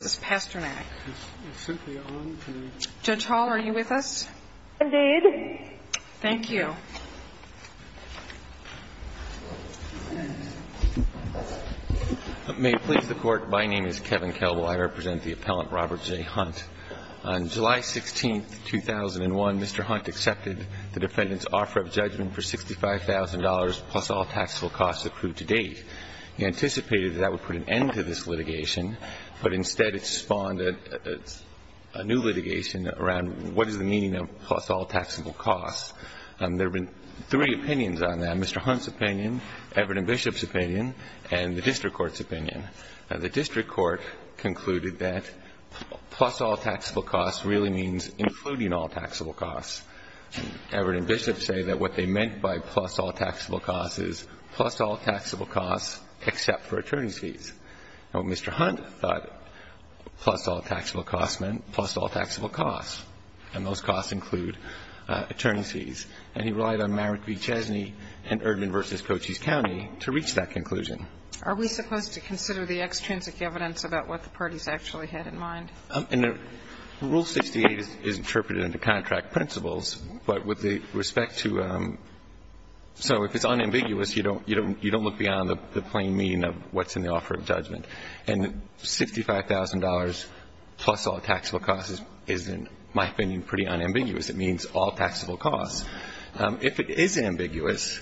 this past dramatic. Judge Hall, are you with us? Indeed. Thank you. May it please the Court, my name is Kevin Kelbel. I represent the appellant Robert J. Hunt. On July 16, 2001, Mr. Hunt accepted the defendant's offer of judgment for $65,000 plus all taxable costs approved to date. He anticipated that would put an end to this litigation, but instead it spawned a new litigation around what is the meaning of plus all taxable costs. There have been three opinions on that, Mr. Hunt's opinion, Everett and Bishop's opinion, and the district court's opinion. The district court concluded that plus all taxable costs really means including all taxable costs. Everett and Bishop say that what they meant by plus all taxable costs is plus all taxable costs except for attorney's fees. Now, Mr. Hunt thought plus all taxable costs meant plus all taxable costs, and those costs include attorney's fees. And he relied on Marek v. Chesney and Erdman v. Cochise County to reach that conclusion. Are we supposed to consider the extrinsic evidence about what the parties actually had in mind? Rule 68 is interpreted under contract principles, but with respect to so if it's you don't look beyond the plain meaning of what's in the offer of judgment. And $65,000 plus all taxable costs is, in my opinion, pretty unambiguous. It means all taxable costs. If it is ambiguous,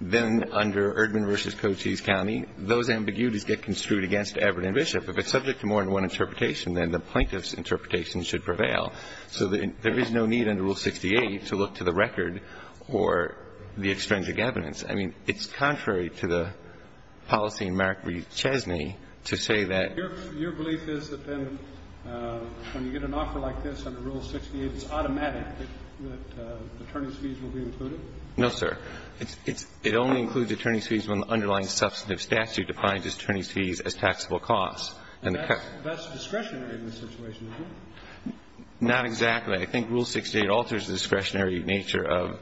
then under Erdman v. Cochise County, those ambiguities get construed against Everett and Bishop. If it's subject to more than one interpretation, then the plaintiff's interpretation should prevail. So there is no need under Rule 68 to look to the record or the extrinsic evidence. I mean, it's contrary to the policy in Marek v. Chesney to say that. Your belief is that then when you get an offer like this under Rule 68, it's automatic that attorney's fees will be included? No, sir. It only includes attorney's fees when the underlying substantive statute defines attorney's fees as taxable costs. That's discretionary in this situation, isn't it? Not exactly. I think Rule 68 alters the discretionary nature of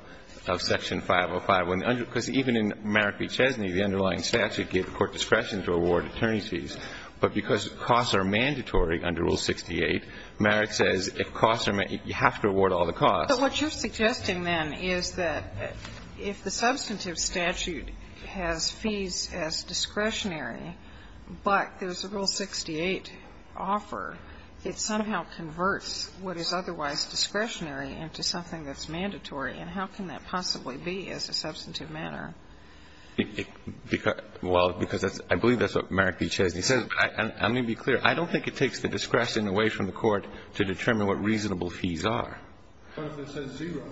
Section 505. Because even in Marek v. Chesney, the underlying statute gave the court discretion to award attorney's fees, but because costs are mandatory under Rule 68, Marek says if costs are mandatory, you have to award all the costs. But what you're suggesting, then, is that if the substantive statute has fees as discretionary, but there's a Rule 68 offer, it somehow converts what is otherwise discretionary into something that's mandatory. And how can that possibly be as a substantive matter? Well, because I believe that's what Marek v. Chesney says. I'm going to be clear. I don't think it takes the discretion away from the court to determine what reasonable fees are. But if it says zero.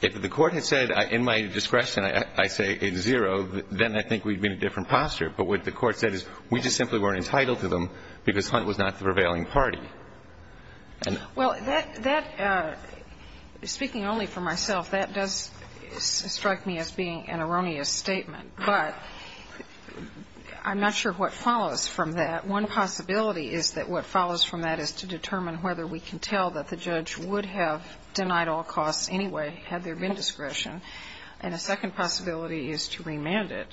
If the court had said in my discretion I say it's zero, then I think we'd be in a different posture. But what the court said is we just simply weren't entitled to them because Hunt was not the prevailing party. Well, that, that, speaking only for myself, that does strike me as being an erroneous statement. But I'm not sure what follows from that. One possibility is that what follows from that is to determine whether we can tell that the judge would have denied all costs anyway had there been discretion. And a second possibility is to remand it,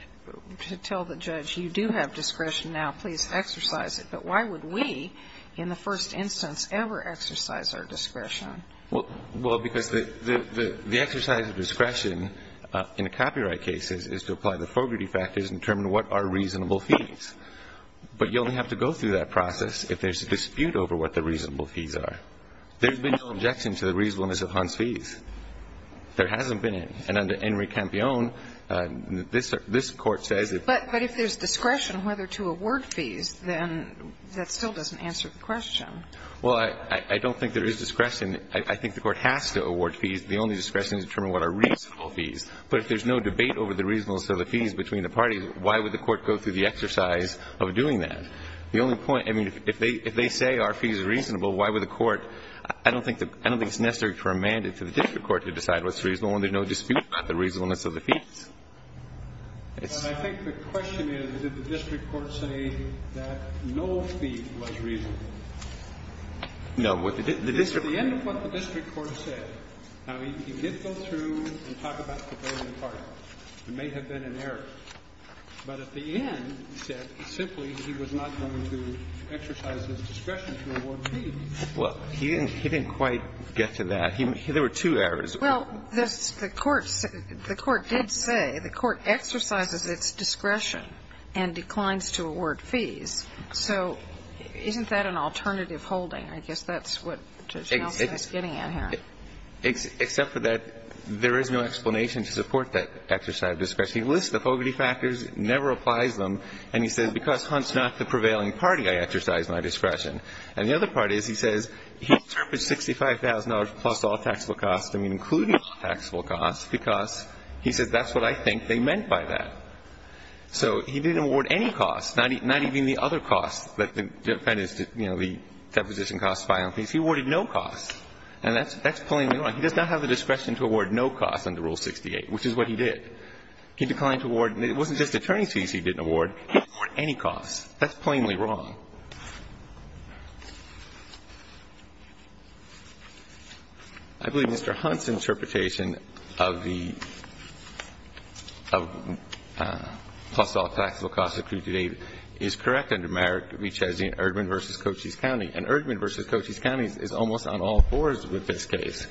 to tell the judge you do have discretion Please exercise it. But why would we, in the first instance, ever exercise our discretion? Well, because the exercise of discretion in a copyright case is to apply the Fogarty factors and determine what are reasonable fees. But you only have to go through that process if there's a dispute over what the reasonable fees are. There's been no objection to the reasonableness of Hunt's fees. There hasn't been. And under Henry Campione, this Court says that But if there's discretion whether to award fees, then that still doesn't answer the question. Well, I don't think there is discretion. I think the Court has to award fees. The only discretion is to determine what are reasonable fees. But if there's no debate over the reasonableness of the fees between the parties, why would the Court go through the exercise of doing that? The only point, I mean, if they say our fees are reasonable, why would the Court I don't think it's necessary to remand it to the district court to decide what's reasonable when there's no dispute about the reasonableness of the fees. It's not But I think the question is, did the district court say that no fee was reasonable? No. The district court At the end of what the district court said, now, he did go through and talk about Campione and Carter. There may have been an error. But at the end, he said simply he was not going to exercise his discretion to award fees. Well, he didn't quite get to that. There were two errors. Well, the Court did say the Court exercises its discretion and declines to award fees. So isn't that an alternative holding? I guess that's what Judge Nelson is getting at here. Except for that there is no explanation to support that exercise of discretion. He lists the poverty factors, never applies them, and he says because Hunt's not the prevailing party, I exercise my discretion. And the other part is he says he's termed it $65,000 plus all taxable costs. I mean, including all taxable costs, because he says that's what I think they meant by that. So he didn't award any costs, not even the other costs that the defendants did, you know, the deposition costs, filing fees. He awarded no costs. And that's plainly wrong. He does not have the discretion to award no costs under Rule 68, which is what he did. He declined to award. It wasn't just attorney's fees he didn't award. He didn't award any costs. That's plainly wrong. I believe Mr. Hunt's interpretation of the plus all taxable costs is correct under Merrick v. Chesney and Erdman v. Cochise County. And Erdman v. Cochise County is almost on all fours with this case.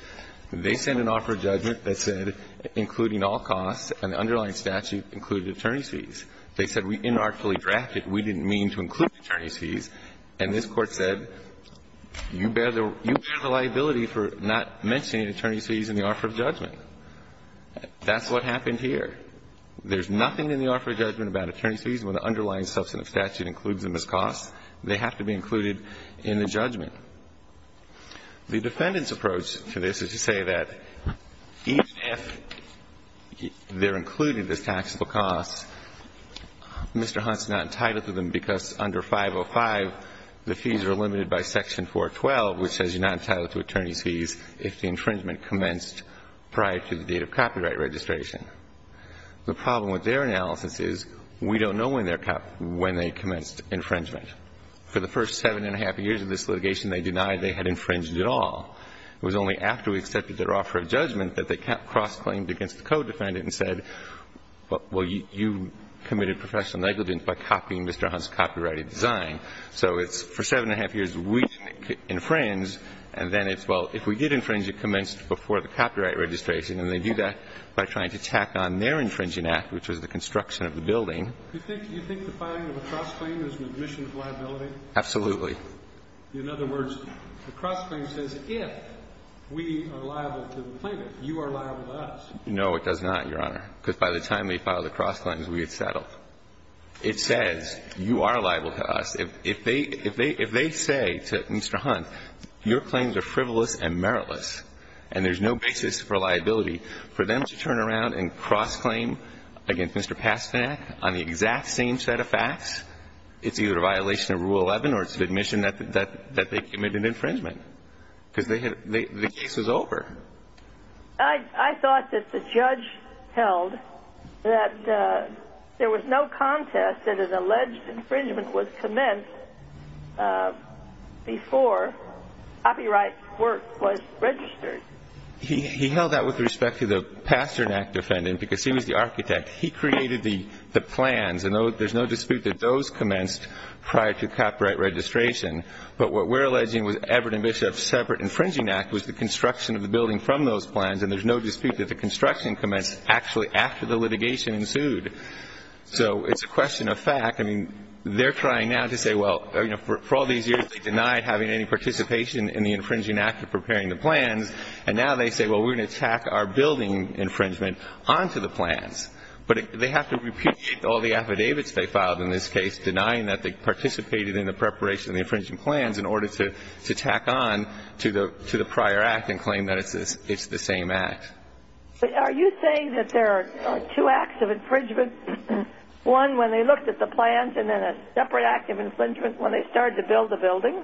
They sent an offer of judgment that said including all costs, and the underlying statute included attorney's fees. They said we inarticulately drafted. We didn't mean to include attorney's fees. And this Court said you bear the liability for not mentioning attorney's fees in the offer of judgment. That's what happened here. There's nothing in the offer of judgment about attorney's fees when the underlying substantive statute includes them as costs. They have to be included in the judgment. The defendant's approach to this is to say that even if they're included as taxable costs, Mr. Hunt's not entitled to them because under 505, the fees are limited by section 412, which says you're not entitled to attorney's fees if the infringement commenced prior to the date of copyright registration. The problem with their analysis is we don't know when they commenced infringement. For the first seven and a half years of this litigation, they denied they had infringed at all. It was only after we accepted their offer of judgment that they cross-claimed against the co-defendant and said, well, you committed professional negligence by copying Mr. Hunt's copyrighted design. So it's for seven and a half years we infringe, and then it's, well, if we did infringe, it commenced before the copyright registration. And they do that by trying to tack on their infringing act, which was the construction of the building. Do you think the filing of a cross-claim is an admission of liability? Absolutely. In other words, the cross-claim says if we are liable to the plaintiff, you are liable to us. No, it does not, Your Honor, because by the time they filed the cross-claims, we had settled. It says you are liable to us. If they say to Mr. Hunt, your claims are frivolous and meritless, and there's no basis for liability, for them to turn around and cross-claim against Mr. Pasternak on the exact same set of facts, it's either a violation of Rule 11 or it's an admission that they committed infringement, because the case is over. I thought that the judge held that there was no contest that an alleged infringement was commenced before copyright work was registered. He held that with respect to the Pasternak defendant, because he was the architect. He created the plans, and there's no dispute that those commenced prior to copyright registration. But what we're alleging was Everett and Bishop's separate infringing act was the construction of the building from those plans, and there's no dispute that the construction commenced actually after the litigation ensued. So it's a question of fact. I mean, they're trying now to say, well, you know, for all these years they denied having any participation in the infringing act of preparing the plans, and now they say, well, we're going to tack our building infringement onto the plans. But they have to repudiate all the affidavits they filed in this case denying that they participated in the preparation of the infringing plans in order to tack on to the prior act and claim that it's the same act. Are you saying that there are two acts of infringement, one when they looked at the plans and then a separate act of infringement when they started to build the building?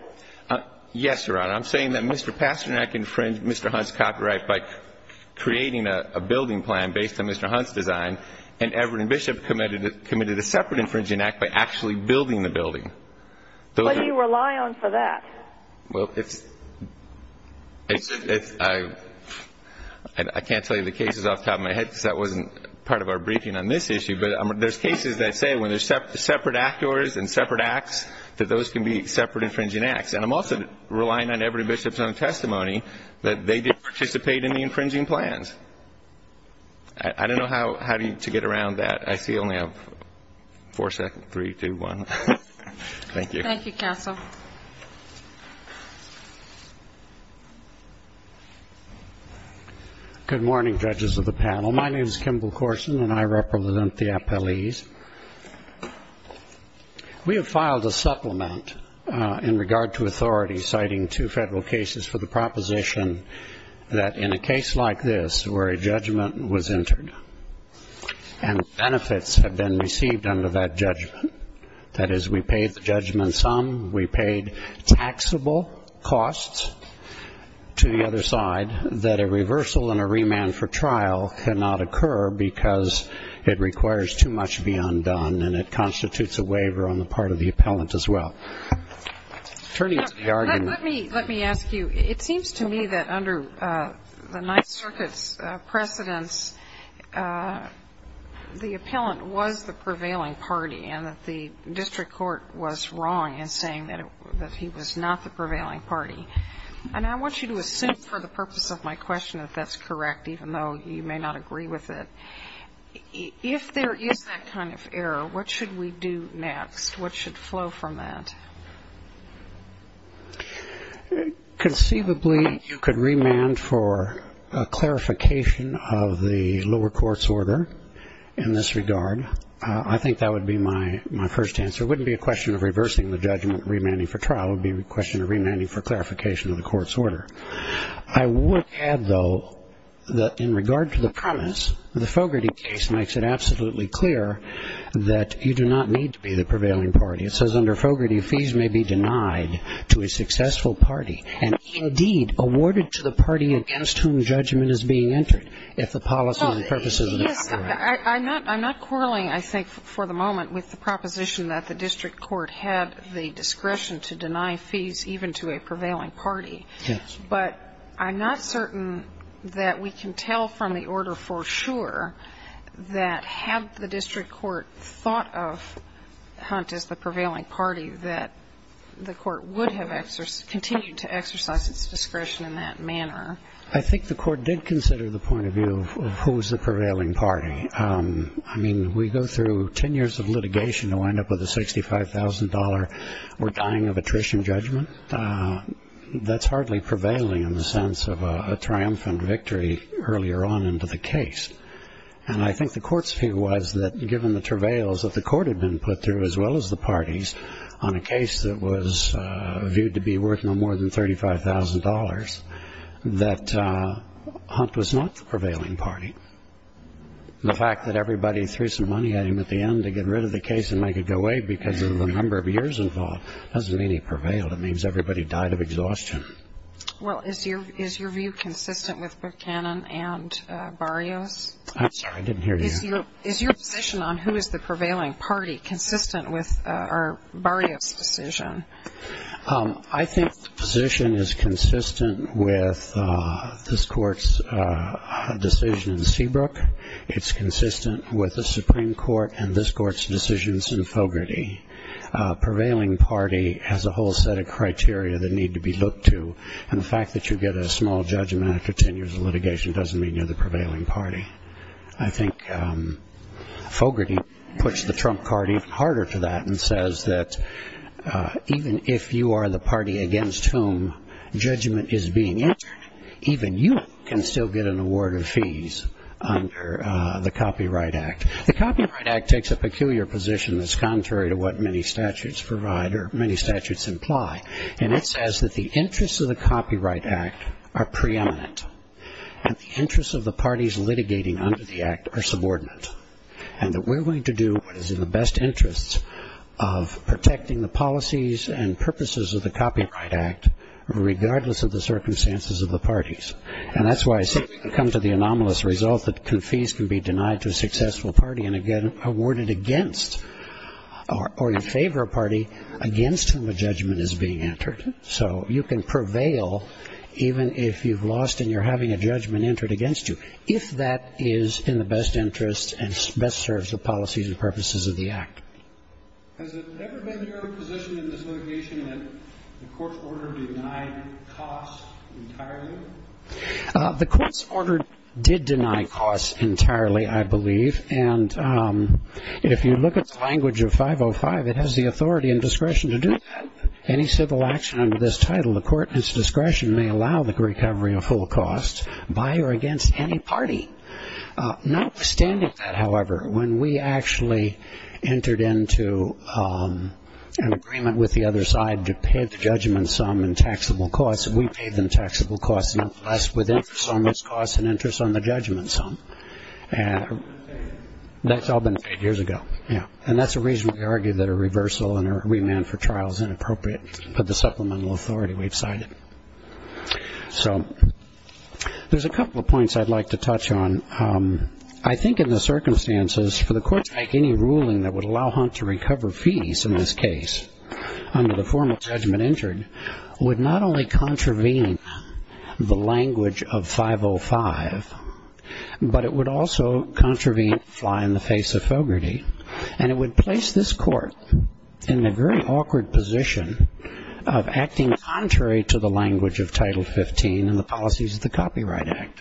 Yes, Your Honor. I'm saying that Mr. Pasternak infringed Mr. Hunt's copyright by creating a building plan based on Mr. Hunt's design, and Everett and Bishop committed a separate infringing act by actually building the building. What do you rely on for that? Well, it's – I can't tell you the cases off the top of my head because that wasn't part of our briefing on this issue, but there's cases that say when there's separate actors and separate acts, that those can be separate infringing acts. And I'm also relying on Everett and Bishop's own testimony that they did participate in the infringing plans. I don't know how to get around that. I see only four seconds. Three, two, one. Thank you. Thank you, counsel. Good morning, judges of the panel. My name is Kimball Corson, and I represent the appellees. We have filed a supplement in regard to authority citing two federal cases for the proposition that in a case like this where a judgment was entered and benefits have been received under that judgment, that is we paid the judgment sum, we paid taxable costs to the other side, that a reversal and a remand for trial cannot occur because it requires too much to be undone, and it constitutes a waiver on the part of the appellant as well. Turning to the argument. Let me ask you. It seems to me that under the Ninth Circuit's precedence the appellant was the prevailing party and that the district court was wrong in saying that he was not the prevailing party. And I want you to assume for the purpose of my question that that's correct, even though you may not agree with it. If there is that kind of error, what should we do next? What should flow from that? Conceivably you could remand for a clarification of the lower court's order in this regard. I think that would be my first answer. It wouldn't be a question of reversing the judgment and remanding for trial. It would be a question of remanding for clarification of the court's order. I would add, though, that in regard to the premise, the Fogarty case makes it absolutely clear that you do not need to be the prevailing party. It says under Fogarty, fees may be denied to a successful party and, indeed, awarded to the party against whom judgment is being entered, if the policy and purposes are not correct. Yes. I'm not quarreling, I think, for the moment with the proposition that the district court had the discretion to deny fees even to a prevailing party. Yes. But I'm not certain that we can tell from the order for sure that had the district court thought of Hunt as the prevailing party, that the court would have continued to exercise its discretion in that manner. I think the court did consider the point of view of who is the prevailing party. I mean, we go through ten years of litigation to wind up with a $65,000 or dying of attrition judgment. That's hardly prevailing in the sense of a triumphant victory earlier on into the case. And I think the court's view was that, given the travails that the court had been put through, as well as the parties, on a case that was viewed to be worth no more than $35,000, that Hunt was not the prevailing party. The fact that everybody threw some money at him at the end to get rid of the case and make it go away because of the number of years involved doesn't mean he prevailed. It means everybody died of exhaustion. Well, is your view consistent with Buchanan and Barrios? I'm sorry. I didn't hear you. Is your position on who is the prevailing party consistent with Barrios' decision? I think the position is consistent with this court's decision in Seabrook. It's consistent with the Supreme Court and this court's decisions in Fogarty. Prevailing party has a whole set of criteria that need to be looked to. And the fact that you get a small judgment after ten years of litigation doesn't mean you're the prevailing party. I think Fogarty puts the trump card even harder to that and says that even if you are the party against whom judgment is being entered, even you can still get an award of fees under the Copyright Act. The Copyright Act takes a peculiar position that's contrary to what many statutes provide or many statutes imply. And it says that the interests of the Copyright Act are preeminent and the interests of the parties litigating under the Act are subordinate. And that we're going to do what is in the best interests of protecting the policies and purposes of the Copyright Act regardless of the circumstances of the parties. And that's why I say we can come to the anomalous result that fees can be denied to a successful party and awarded against or in favor of a party against whom a judgment is being entered. So you can prevail even if you've lost and you're having a judgment entered against you if that is in the best interests and best serves the policies and purposes of the Act. Has it ever been your position in this litigation that the court's order denied costs entirely? The court's order did deny costs entirely. I believe. And if you look at the language of 505, it has the authority and discretion to do that. Any civil action under this title, the court in its discretion may allow the recovery of full costs by or against any party. Notwithstanding that, however, when we actually entered into an agreement with the other side to pay the judgment sum in taxable costs, we paid them taxable costs with interest on those costs and interest on the judgment sum. That's all been paid years ago. And that's the reason we argue that a reversal and a remand for trial is inappropriate for the supplemental authority we've cited. So there's a couple of points I'd like to touch on. I think in the circumstances for the court to make any ruling that would allow Hunt to recover fees in this case under the formal judgment entered would not only contravene the language of 505, but it would also contravene fly in the face of Fogarty, and it would place this court in a very awkward position of acting contrary to the language of Title 15 and the policies of the Copyright Act.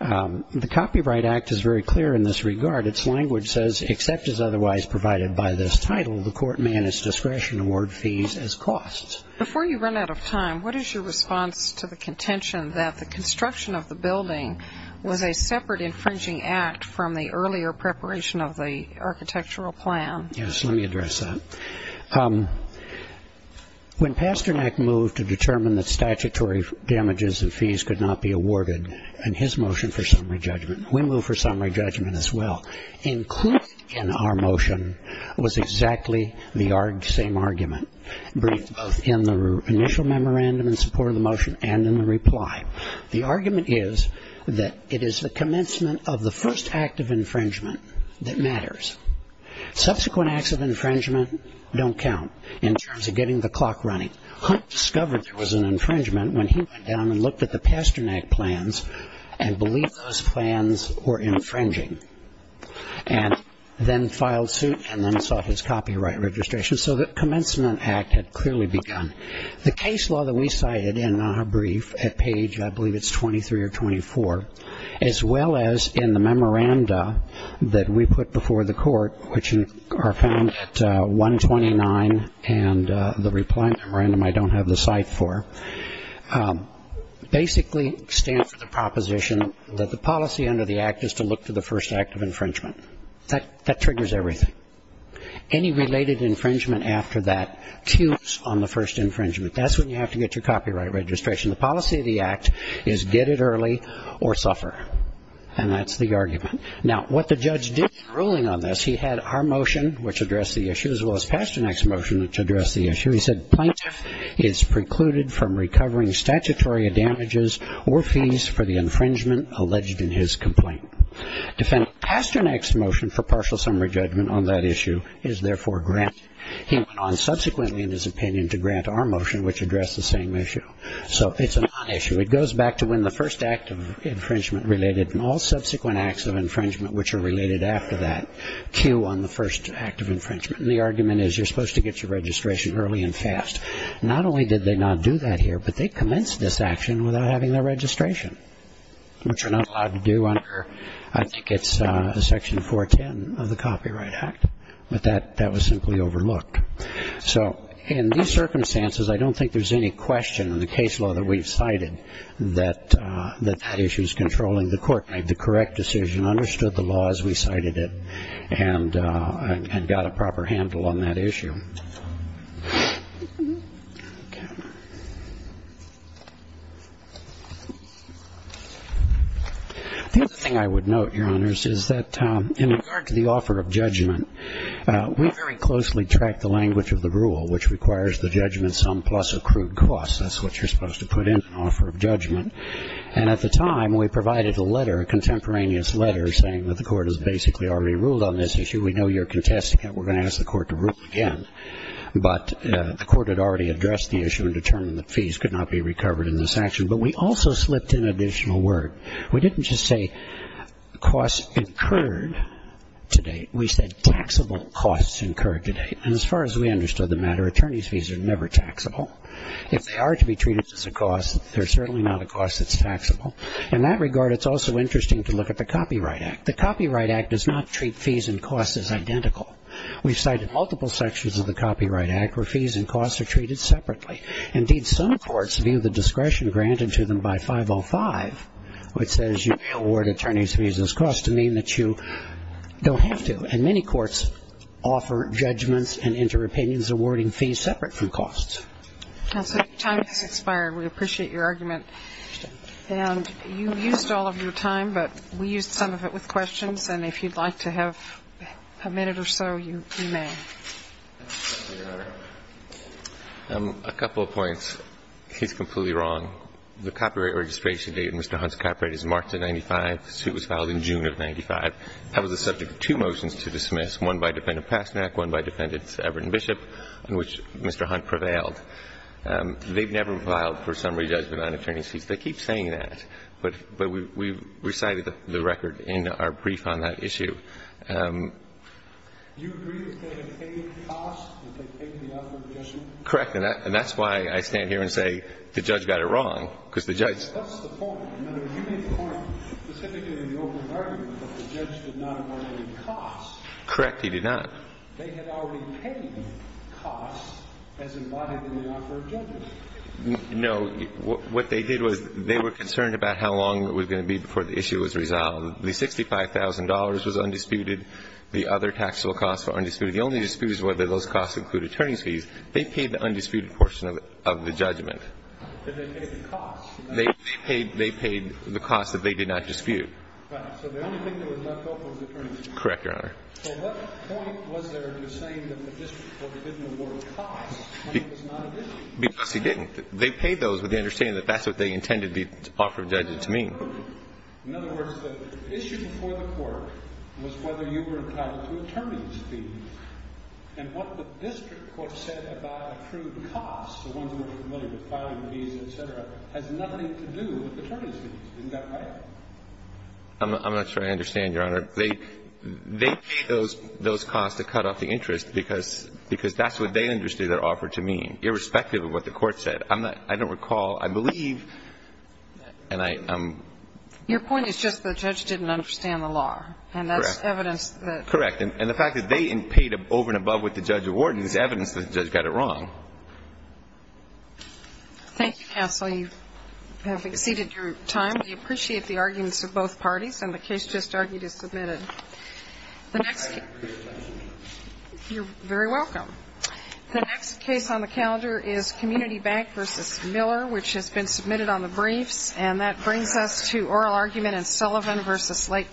The Copyright Act is very clear in this regard. Its language says, except as otherwise provided by this title, the court may in its discretion award fees as costs. Before you run out of time, what is your response to the contention that the construction of the building was a separate infringing act from the earlier preparation of the architectural plan? Yes, let me address that. When Pasternak moved to determine that statutory damages and fees could not be awarded in his motion for summary judgment, we moved for summary judgment as well. Included in our motion was exactly the same argument, both in the initial memorandum in support of the motion and in the reply. The argument is that it is the commencement of the first act of infringement that matters. Subsequent acts of infringement don't count in terms of getting the clock running. Hunt discovered there was an infringement when he went down and looked at the first act of infringement, and then filed suit and then sought his copyright registration. So the commencement act had clearly begun. The case law that we cited in our brief at page, I believe it's 23 or 24, as well as in the memoranda that we put before the court, which are found at 129 and the reply memorandum I don't have the cite for, basically stands for the proposition that the policy under the act is to look to the first act of infringement. That triggers everything. Any related infringement after that tunes on the first infringement. That's when you have to get your copyright registration. The policy of the act is get it early or suffer. And that's the argument. Now, what the judge did in ruling on this, he had our motion, which addressed the issue, as well as Pasternak's motion, which addressed the issue. He said plaintiff is precluded from recovering statutory damages or fees for the infringement alleged in his complaint. Defendant Pasternak's motion for partial summary judgment on that issue is therefore granted. He went on subsequently in his opinion to grant our motion, which addressed the same issue. So it's a nonissue. It goes back to when the first act of infringement related and all subsequent acts of infringement, which are related after that, cue on the first act of infringement. And the argument is you're supposed to get your registration early and fast. Not only did they not do that here, but they commenced this action without having their registration, which you're not allowed to do under, I think it's section 410 of the Copyright Act. But that was simply overlooked. So in these circumstances, I don't think there's any question in the case law that we've cited that that issue is controlling the court. Made the correct decision, understood the law as we cited it, and got a proper handle on it. The other thing I would note, Your Honors, is that in regard to the offer of judgment, we very closely tracked the language of the rule, which requires the judgment sum plus accrued costs. That's what you're supposed to put in an offer of judgment. And at the time, we provided a letter, a contemporaneous letter, saying that the court has basically already ruled on this issue. We know you're contesting it. We're going to ask the court to approve it. But the court had already addressed the issue and determined that fees could not be recovered in this action. But we also slipped in additional word. We didn't just say costs incurred to date. We said taxable costs incurred to date. And as far as we understood the matter, attorneys' fees are never taxable. If they are to be treated as a cost, they're certainly not a cost that's taxable. In that regard, it's also interesting to look at the Copyright Act. The Copyright Act does not treat fees and costs as identical. We've cited multiple sections of the Copyright Act where fees and costs are treated separately. Indeed, some courts view the discretion granted to them by 505, which says you may award attorneys' fees as costs, to mean that you don't have to. And many courts offer judgments and inter-opinions, awarding fees separate from costs. So your time has expired. We appreciate your argument. And you used all of your time, but we used some of it with questions. And if you'd like to have a minute or so, you may. MR. HUNT. A couple of points. He's completely wrong. The copyright registration date of Mr. Hunt's copyright is March of 1995. The suit was filed in June of 1995. That was the subject of two motions to dismiss, one by Defendant Pasternak, one by Defendant Everton Bishop, on which Mr. Hunt prevailed. They've never filed for summary judgment on attorney's fees. They keep saying that. But we recited the record in our brief on that issue. MR. NEGROPONTE. Do you agree that they have paid costs, that they paid the offer of judgment? MR. HUNT. Correct. And that's why I stand here and say the judge got it wrong, because the judge MR. NEGROPONTE. That's the point. In other words, you made the point specifically in the open argument that the judge did not award any costs. MR. HUNT. Correct. MR. NEGROPONTE. They had already paid costs as embodied in the offer of judgment. MR. HUNT. No. What they did was they were concerned about how long it was going to be before the issue was resolved. The $65,000 was undisputed. The other taxable costs were undisputed. The only dispute is whether those costs include attorney's fees. They paid the undisputed portion of the judgment. MR. NEGROPONTE. Did they pay the costs? MR. HUNT. They paid the costs that they did not dispute. MR. NEGROPONTE. Right. So the only thing that was left over was attorney's fees. MR. HUNT. Correct, Your Honor. MR. NEGROPONTE. So what point was there in saying that the district court didn't award costs when it was not a dispute? MR. HUNT. Because he didn't. They paid those with the understanding that that's what they intended the offer of judgment to mean. MR. NEGROPONTE. In other words, the issue before the Court was whether you were entitled to attorney's fees. And what the district court said about accrued costs, the ones we're familiar with, filing fees, et cetera, has nothing to do with attorney's fees. Isn't that right? MR. HUNT. I'm not sure I understand, Your Honor. I'm not sure I understand, Your Honor. They paid those costs to cut off the interest because that's what they understood the court said. I don't recall, I believe, and I'm… MS. KAYE. Your point is just the judge didn't understand the law. MR. HUNT. Correct. MS. KAYE. And that's evidence that… MR. HUNT. Correct. And the fact that they paid over and above what the judge awarded is evidence that the judge got it wrong. MS. KAYE. You have exceeded your time. We appreciate the arguments of both parties. And the case just argued is submitted. MR. NEGROPONTE. I agree with that. MS. KAYE. You're very welcome. The next case on the calendar is Court 7-3. This case is Community Bank v. Miller, which has been submitted on the briefs. And that brings us to oral argument in Sullivan v. Lake County.